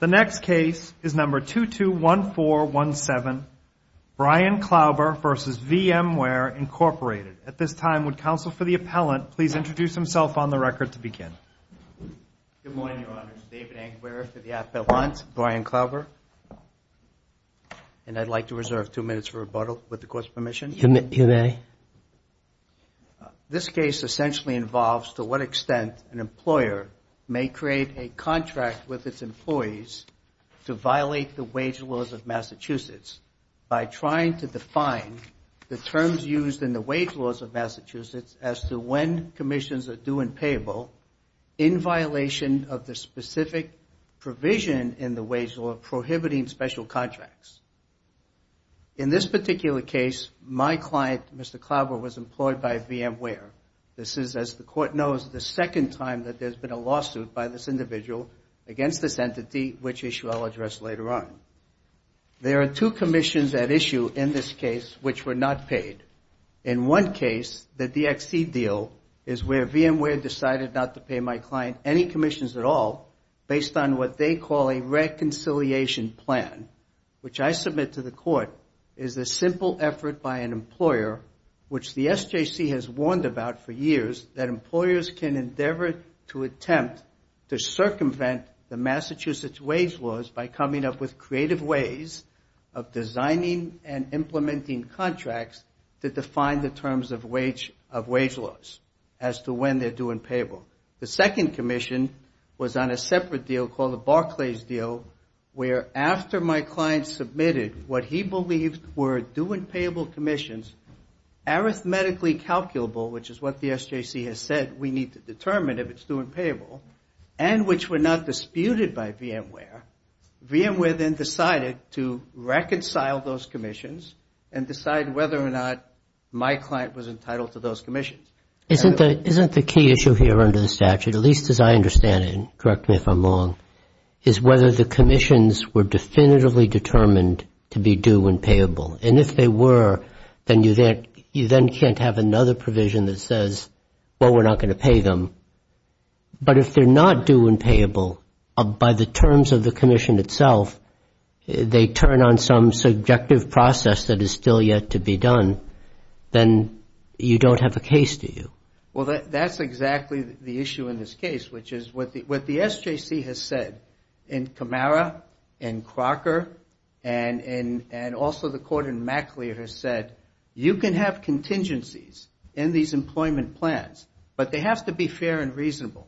The next case is number 221417, Brian Klauber v. VMware, Inc. At this time, would counsel for the appellant please introduce himself on the record to Good morning, Your Honor. This is David Anguirre for the appellant, Brian Klauber, and I'd like to reserve two minutes for rebuttal, with the Court's permission. You may. This case essentially involves to what extent an employer may create a contract with its employees to violate the wage laws of Massachusetts by trying to define the terms used in the wage laws of Massachusetts as to when commissions are due and payable in violation of the specific provision in the wage law prohibiting special contracts. In this particular case, my client, Mr. Klauber, was employed by VMware. This is, as the Court knows, the second time that there's been a lawsuit by this individual against this entity, which issue I'll address later on. There are two commissions at issue in this case which were not paid. In one case, the DXC deal, is where VMware decided not to pay my client any commissions at all, based on what they call a reconciliation plan, which I submit to the Court, is a simple effort by an employer, which the SJC has warned about for years, that employers can endeavor to attempt to circumvent the Massachusetts wage laws by coming up with creative ways of designing and implementing contracts to define the terms of wage laws as to when they're due and payable. The second commission was on a separate deal called the Barclays deal, where after my client submitted what he believed were due and payable commissions, arithmetically calculable, which is what the SJC has said we need to determine if it's due and payable, and which were not disputed by VMware, VMware then decided to reconcile those commissions and decide whether or not my client was entitled to those commissions. Isn't the key issue here under the statute, at least as I understand it, and correct me if I'm wrong, is whether the commissions were definitively determined to be due and payable. And if they were, then you then can't have another provision that says, well, we're not going to pay them. But if they're not due and payable, by the terms of the commission itself, they turn on some subjective process that is still yet to be done, then you don't have a case, do you? Well, that's exactly the issue in this case, which is what the SJC has said in Camara, in Crocker, and also the court in McLeod has said, you can have contingencies in these employment plans, but they have to be fair and reasonable.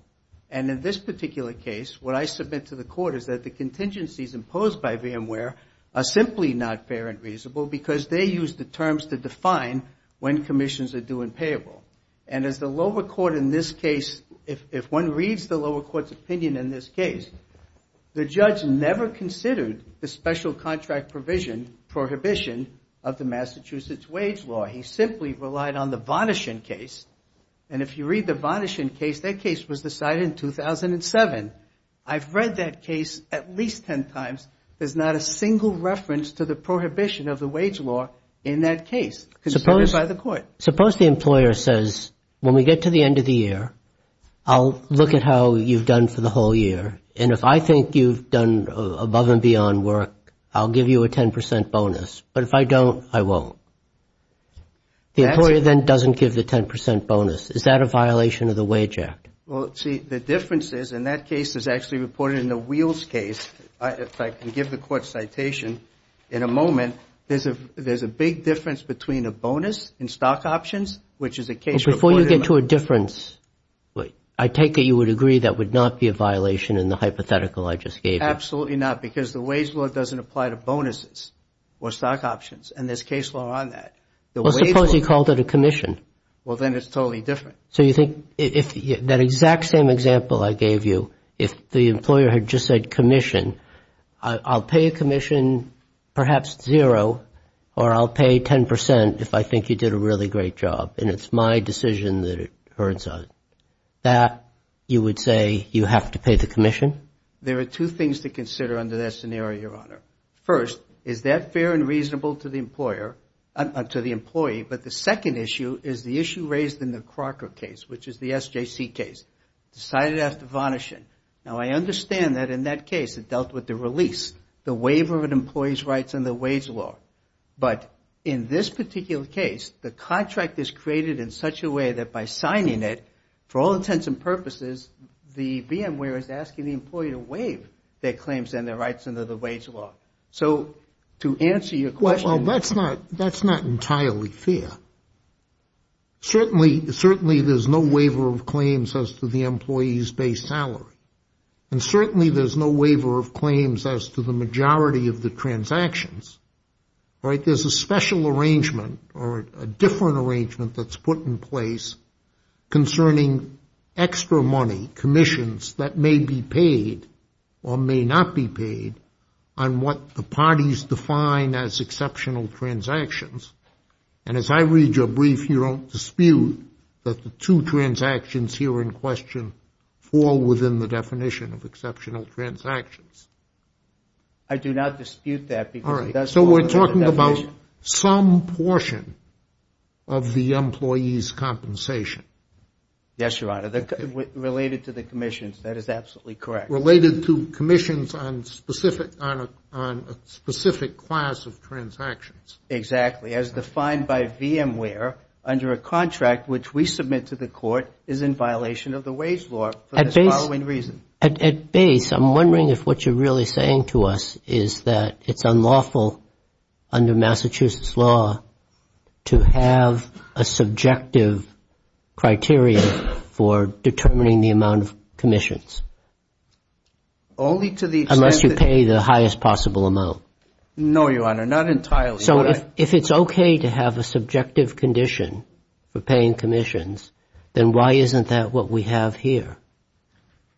And in this particular case, what I submit to the court is that the contingencies imposed by VMware are simply not fair and reasonable because they use the terms to define when commissions are due and payable. And as the lower court in this case, if one reads the lower court's opinion in this case, the judge never considered the special contract provision prohibition of the Massachusetts wage law. He simply relied on the Vonishen case. And if you read the Vonischen case, that case was decided in 2007. I've read that case at least 10 times, there's not a single reference to the prohibition of the wage law in that case, considered by the court. Suppose the employer says, when we get to the end of the year, I'll look at how you've done for the whole year, and if I think you've done above and beyond work, I'll give you a 10% bonus, but if I don't, I won't. The employer then doesn't give the 10% bonus. Is that a violation of the Wage Act? Well, see, the difference is, and that case is actually reported in the Wheels case, if I can give the court's citation, in a moment, there's a big difference between a bonus in stock options, which is a case reported in the... And before you get to a difference, I take it you would agree that would not be a violation in the hypothetical I just gave you? Absolutely not, because the wage law doesn't apply to bonuses or stock options, and there's case law on that. The wage law... Well, suppose you called it a commission. Well, then it's totally different. So you think, that exact same example I gave you, if the employer had just said commission, I'll pay a commission, perhaps zero, or I'll pay 10% if I think you did a really great job, and it's my decision that it turns out. That, you would say, you have to pay the commission? There are two things to consider under that scenario, Your Honor. First, is that fair and reasonable to the employer, to the employee, but the second issue is the issue raised in the Crocker case, which is the SJC case, decided after varnishing. Now, I understand that in that case, it dealt with the release, the waiver of an employee's rights under the wage law. But in this particular case, the contract is created in such a way that by signing it, for all intents and purposes, the VMware is asking the employee to waive their claims and their rights under the wage law. So, to answer your question. Well, that's not entirely fair. Certainly, there's no waiver of claims as to the employee's base salary. And certainly, there's no waiver of claims as to the majority of the transactions. Right? There's a special arrangement or a different arrangement that's put in place concerning extra money, commissions that may be paid or may not be paid on what the parties define as exceptional transactions. And as I read your brief, you don't dispute that the two transactions here in question fall within the definition of exceptional transactions. I do not dispute that. All right. So, we're talking about some portion of the employee's compensation. Yes, Your Honor. Related to the commissions. That is absolutely correct. Related to commissions on a specific class of transactions. Exactly. As defined by VMware, under a contract which we submit to the court is in violation of the wage law for the following reason. At base, I'm wondering if what you're really saying to us is that it's unlawful under Massachusetts law to have a subjective criteria for determining the amount of commissions. Only to the extent that... Unless you pay the highest possible amount. No, Your Honor. Not entirely. So, if it's okay to have a subjective condition for paying commissions, then why isn't that what we have here?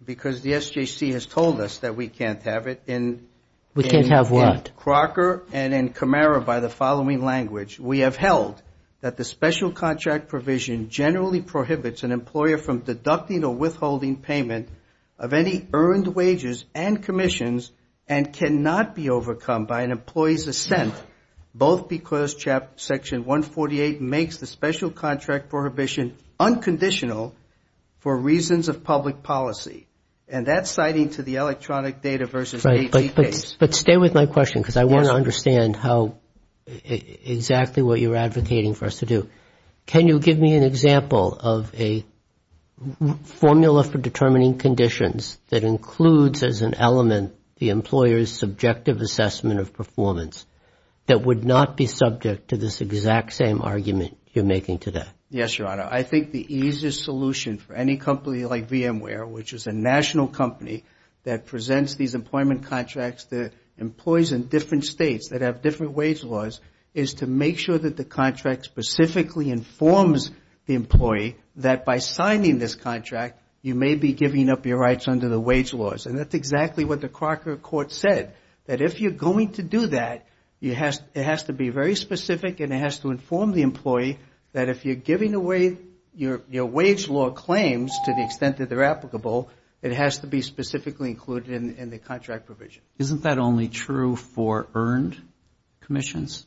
Because the SJC has told us that we can't have it in... We can't have what? Crocker and Camara, by the following language, we have held that the special contract provision generally prohibits an employer from deducting or withholding payment of any earned wages and commissions and cannot be overcome by an employee's assent, both because Section 148 makes the special contract prohibition unconditional for reasons of public policy. And that's citing to the electronic data versus AT case. But stay with my question because I want to understand how exactly what you're advocating for us to do. Can you give me an example of a formula for determining conditions that includes as an element the employer's subjective assessment of performance that would not be subject to this exact same argument you're making today? Yes, Your Honor. I think the easiest solution for any company like VMware, which is a national company that employs in different states that have different wage laws, is to make sure that the contract specifically informs the employee that by signing this contract, you may be giving up your rights under the wage laws. And that's exactly what the Crocker court said, that if you're going to do that, it has to be very specific and it has to inform the employee that if you're giving away your wage law claims to the extent that they're applicable, it has to be specifically included in the contract provision. Isn't that only true for earned commissions?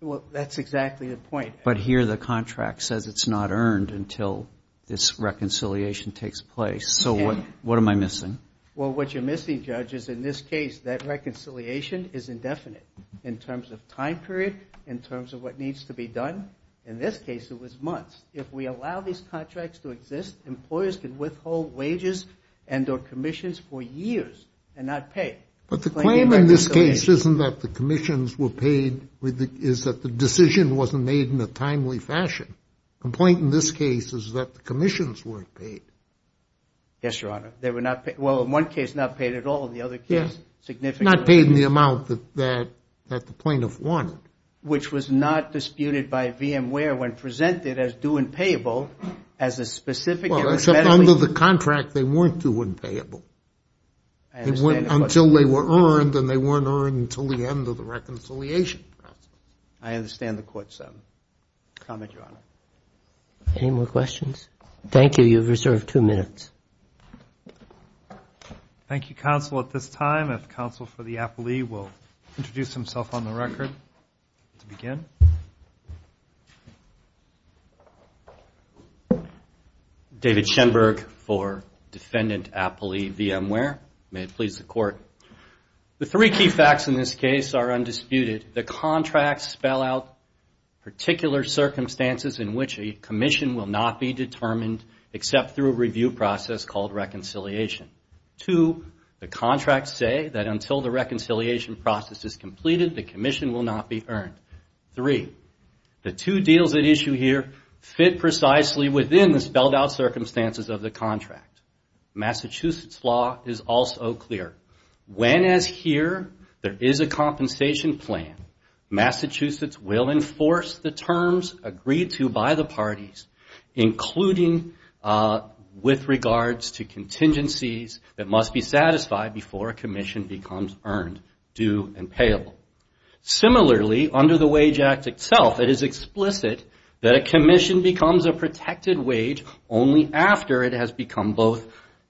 Well, that's exactly the point. But here the contract says it's not earned until this reconciliation takes place. So what am I missing? Well, what you're missing, Judge, is in this case, that reconciliation is indefinite in terms of time period, in terms of what needs to be done. In this case, it was months. If we allow these contracts to exist, employers can withhold wages and or commissions for years and not pay. But the claim in this case isn't that the commissions were paid, is that the decision wasn't made in a timely fashion. The point in this case is that the commissions weren't paid. Yes, Your Honor. They were not paid. Well, in one case, not paid at all. In the other case, significantly. Not paid in the amount that the plaintiff wanted. Which was not disputed by VMware when presented as due and payable as a specific. Well, except under the contract, they weren't due and payable. Until they were earned, and they weren't earned until the end of the reconciliation. I understand the court's comment, Your Honor. Any more questions? Thank you. You have reserved two minutes. Thank you, counsel. At this time, if counsel for the appellee will introduce himself on the record to begin. David Shenberg for Defendant Appellee VMware. May it please the court. The three key facts in this case are undisputed. The contracts spell out particular circumstances in which a commission will not be determined except through a review process called reconciliation. Two, the contracts say that until the reconciliation process is completed, the commission will not be earned. Three, the two deals at issue here fit precisely within the spelled out circumstances of the contract. Massachusetts law is also clear. When, as here, there is a compensation plan, Massachusetts will enforce the terms agreed to by the parties, including with regards to contingencies that must be satisfied before a commission becomes earned, due, and payable. Similarly, under the Wage Act itself, it is explicit that a commission becomes a protected wage only after it has become both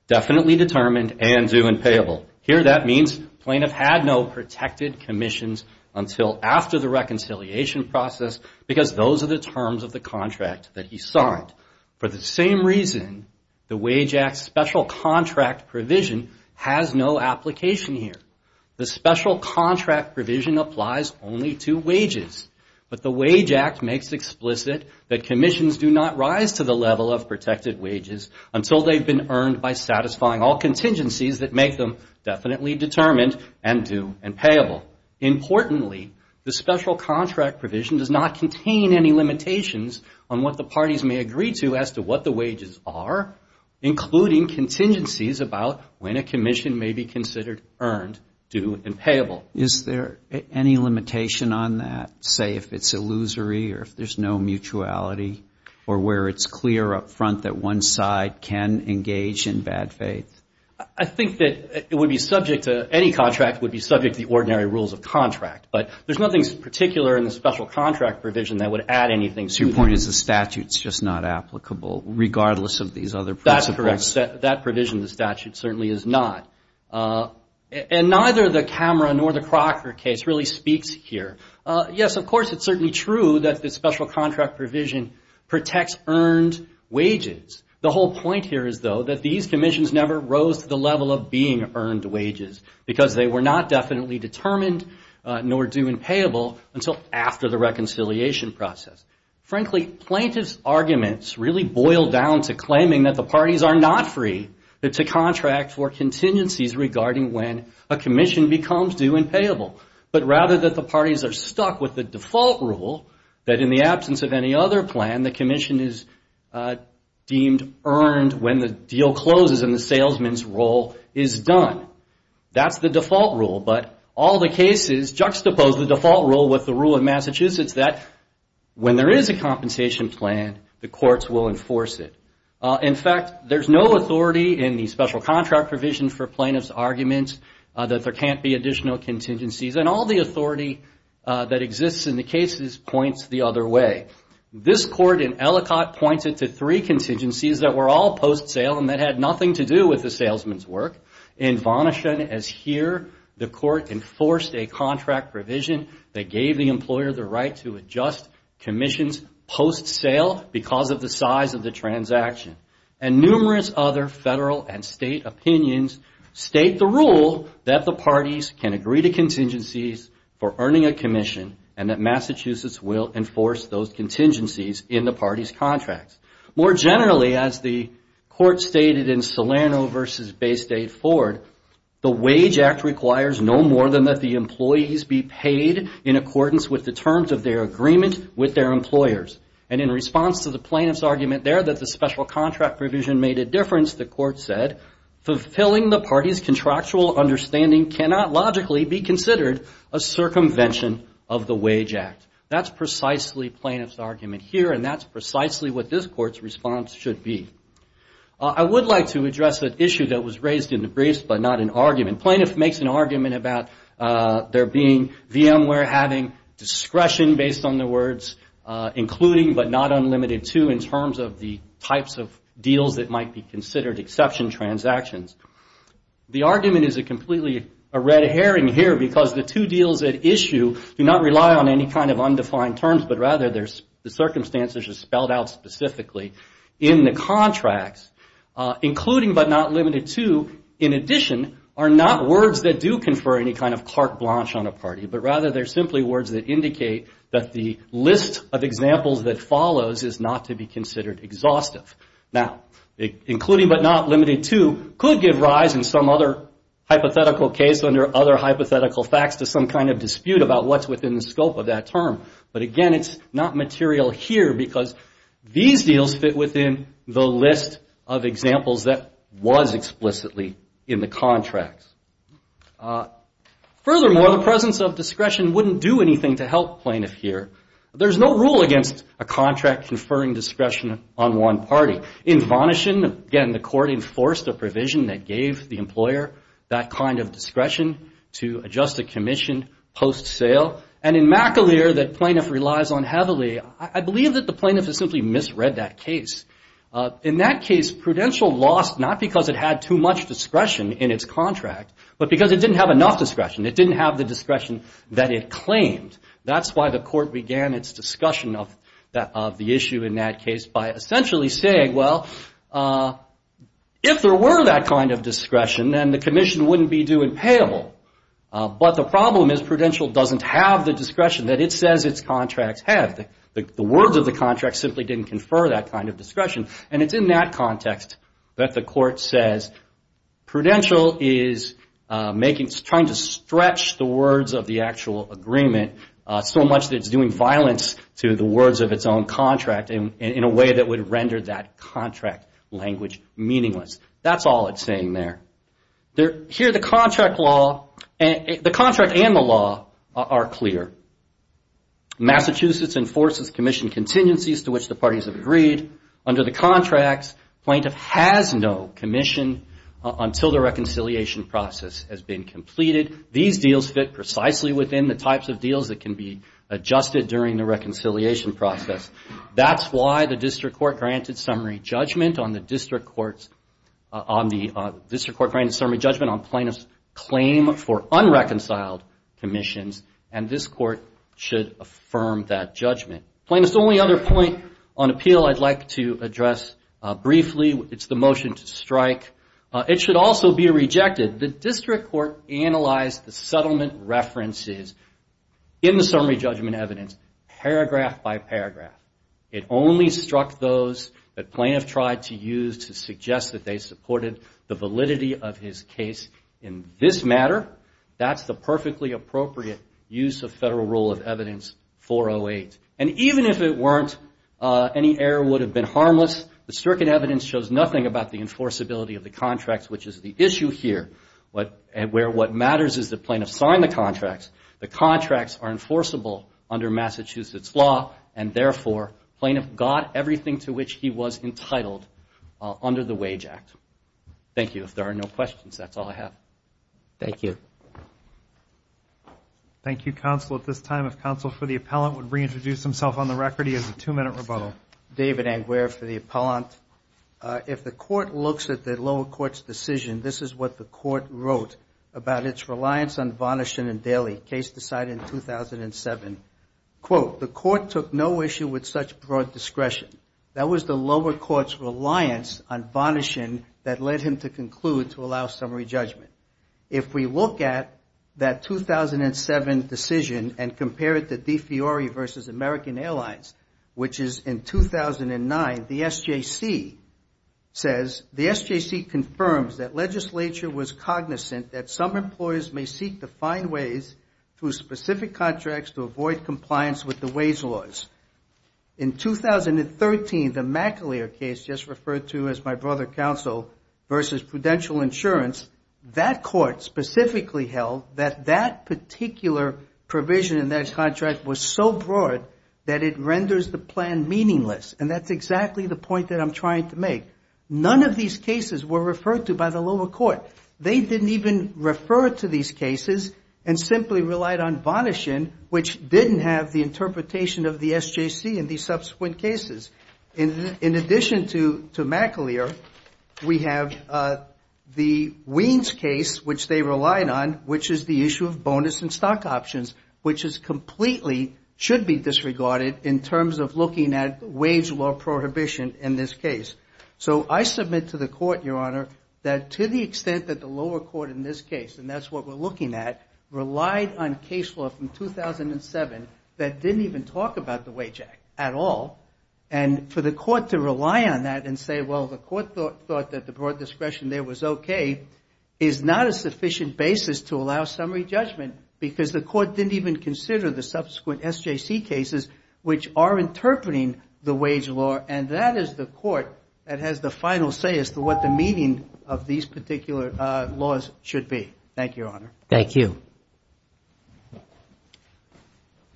definitely determined and due and payable. Here, that means plaintiff had no protected commissions until after the reconciliation process because those are the terms of the contract that he signed. For the same reason, the Wage Act special contract provision has no application here. The special contract provision applies only to wages, but the Wage Act makes explicit that commissions do not rise to the level of protected wages until they've been earned by satisfying all contingencies that make them definitely determined and due and payable. Importantly, the special contract provision does not contain any limitations on what the parties may agree to as to what the wages are, including contingencies about when a commission may be considered earned, due, and payable. Is there any limitation on that, say if it's illusory or if there's no mutuality, or where it's clear up front that one side can engage in bad faith? I think that it would be subject to, any contract would be subject to the ordinary rules of contract, but there's nothing particular in the special contract provision that would add anything to that. So your point is the statute's just not applicable, regardless of these other principles? That's correct. That provision in the statute certainly is not. And neither the Cameron nor the Crocker case really speaks here. Yes, of course it's certainly true that the special contract provision protects earned wages. The whole point here is, though, that these commissions never rose to the level of being earned wages because they were not definitely determined, nor due and payable, until after the reconciliation process. Frankly, plaintiff's arguments really boil down to claiming that the parties are not free to contract for contingencies regarding when a commission becomes due and payable, but rather that the parties are stuck with the default rule that in the absence of any other plan, the commission is deemed earned when the deal closes and the salesman's role is done. That's the default rule, but all the cases juxtapose the default rule with the rule of Massachusetts that when there is a compensation plan, the courts will enforce it. In fact, there's no authority in the special contract provision for plaintiff's arguments that there can't be additional contingencies, and all the authority that exists in the cases points the other way. This court in Ellicott points it to three contingencies that were all post-sale and that had nothing to do with the salesman's work. In Vonishen, as here, the court enforced a contract provision that gave the employer the right to adjust commissions post-sale because of the size of the transaction. And numerous other federal and state opinions state the rule that the parties can agree to contingencies for earning a commission and that Massachusetts will enforce those contingencies in the parties' contracts. More generally, as the court stated in Salerno v. Baystate-Ford, the Wage Act requires no more than that the employees be paid in accordance with the terms of their agreement with their employers. And in response to the plaintiff's argument there that the special contract provision made a difference, the court said, fulfilling the parties' contractual understanding cannot logically be considered a circumvention of the Wage Act. That's precisely plaintiff's argument here and that's precisely what this court's response should be. I would like to address an issue that was raised in the briefs but not in argument. Plaintiff makes an argument about there being VMware having discretion based on the words including but not unlimited to in terms of the types of deals that might be considered exception transactions. The argument is completely a red herring here because the two deals at issue do not rely on any kind of undefined terms but rather the circumstances are spelled out specifically in the contracts. Including but not limited to, in addition, are not words that do confer any kind of carte blanche on a party but rather they're simply words that indicate that the list of examples that follows is not to be considered exhaustive. Now, including but not limited to could give rise in some other hypothetical case under other hypothetical facts to some kind of dispute about what's within the scope of that term. But again, it's not material here because these deals fit within the list of examples that was explicitly in the contracts. Furthermore, the presence of discretion wouldn't do anything to help plaintiff here. There's no rule against a contract conferring discretion on one party. In Vonishen, again, the court enforced a provision that gave the employer that kind of discretion to adjust a commission post sale. And in McAleer that plaintiff relies on heavily, I believe that the plaintiff has simply misread that case. In that case, Prudential lost not because it had too much discretion in its contract but because it didn't have enough discretion. It didn't have the discretion that it claimed. That's why the court began its discussion of the issue in that case by essentially saying, well, if there were that kind of discretion, then the commission wouldn't be due and payable. But the problem is Prudential doesn't have the discretion that it says its contracts have. The words of the contract simply didn't confer that kind of discretion. And it's in that context that the court says Prudential is making, trying to stretch the words of the actual agreement so much that it's doing violence to the words of its own contract in a way that would render that contract language meaningless. That's all it's saying there. The contract and the law are clear. Massachusetts enforces commission contingencies to which the parties have agreed. Under the contracts, plaintiff has no commission until the reconciliation process has been completed. These deals fit precisely within the types of deals that can be adjusted during the reconciliation process. That's why the district court granted summary judgment on plaintiff's claim for unreconciled commissions, and this court should affirm that judgment. Plaintiff's only other point on appeal I'd like to address briefly. It's the motion to strike. It should also be rejected. The district court analyzed the settlement references in the summary judgment evidence, paragraph by paragraph. It only struck those that plaintiff tried to use to suggest that they supported the validity of his case in this matter. That's the perfectly appropriate use of federal rule of evidence 408. And even if it weren't, any error would have been harmless. The circuit evidence shows nothing about the enforceability of the contracts, which is the issue here, where what matters is that plaintiff signed the contracts. The contracts are enforceable under Massachusetts law, and therefore, plaintiff got everything to which he was entitled under the Wage Act. Thank you. If there are no questions, that's all I have. Thank you. Thank you, counsel. At this time, if counsel for the appellant would reintroduce himself on the record. He has a two-minute rebuttal. David Engware for the appellant. If the court looks at the lower court's decision, this is what the court wrote about its reliance on varnishing and daily. The case decided in 2007, quote, the court took no issue with such broad discretion. That was the lower court's reliance on varnishing that led him to conclude to allow summary judgment. If we look at that 2007 decision and compare it to DeFiore versus American Airlines, which is in 2009, the SJC says, the SJC confirms that legislature was cognizant that some employers may seek to find ways through specific contracts to avoid compliance with the wage laws. In 2013, the McAleer case, just referred to as my brother counsel, versus Prudential Insurance, that court specifically held that that particular provision in that contract was so broad that it renders the plan meaningless. And that's exactly the point that I'm trying to make. None of these cases were referred to by the lower court. They didn't even refer to these cases and simply relied on varnishing, which didn't have the interpretation of the SJC in the subsequent cases. In addition to McAleer, we have the Weins case, which they relied on, which is the issue of bonus and stock options, which is completely, should be disregarded in terms of looking at wage law prohibition in this case. So I submit to the court, Your Honor, that to the extent that the lower court in this case, and that's what we're looking at, relied on case law from 2007 that didn't even talk about the wage act at all, and for the court to rely on that and say, well, the court thought that the broad discretion there was okay, is not a sufficient basis to allow summary judgment because the court didn't even consider the subsequent SJC cases, which are interpreting the wage law, and that is the court that has the final say as to what the meaning of these particular laws should be.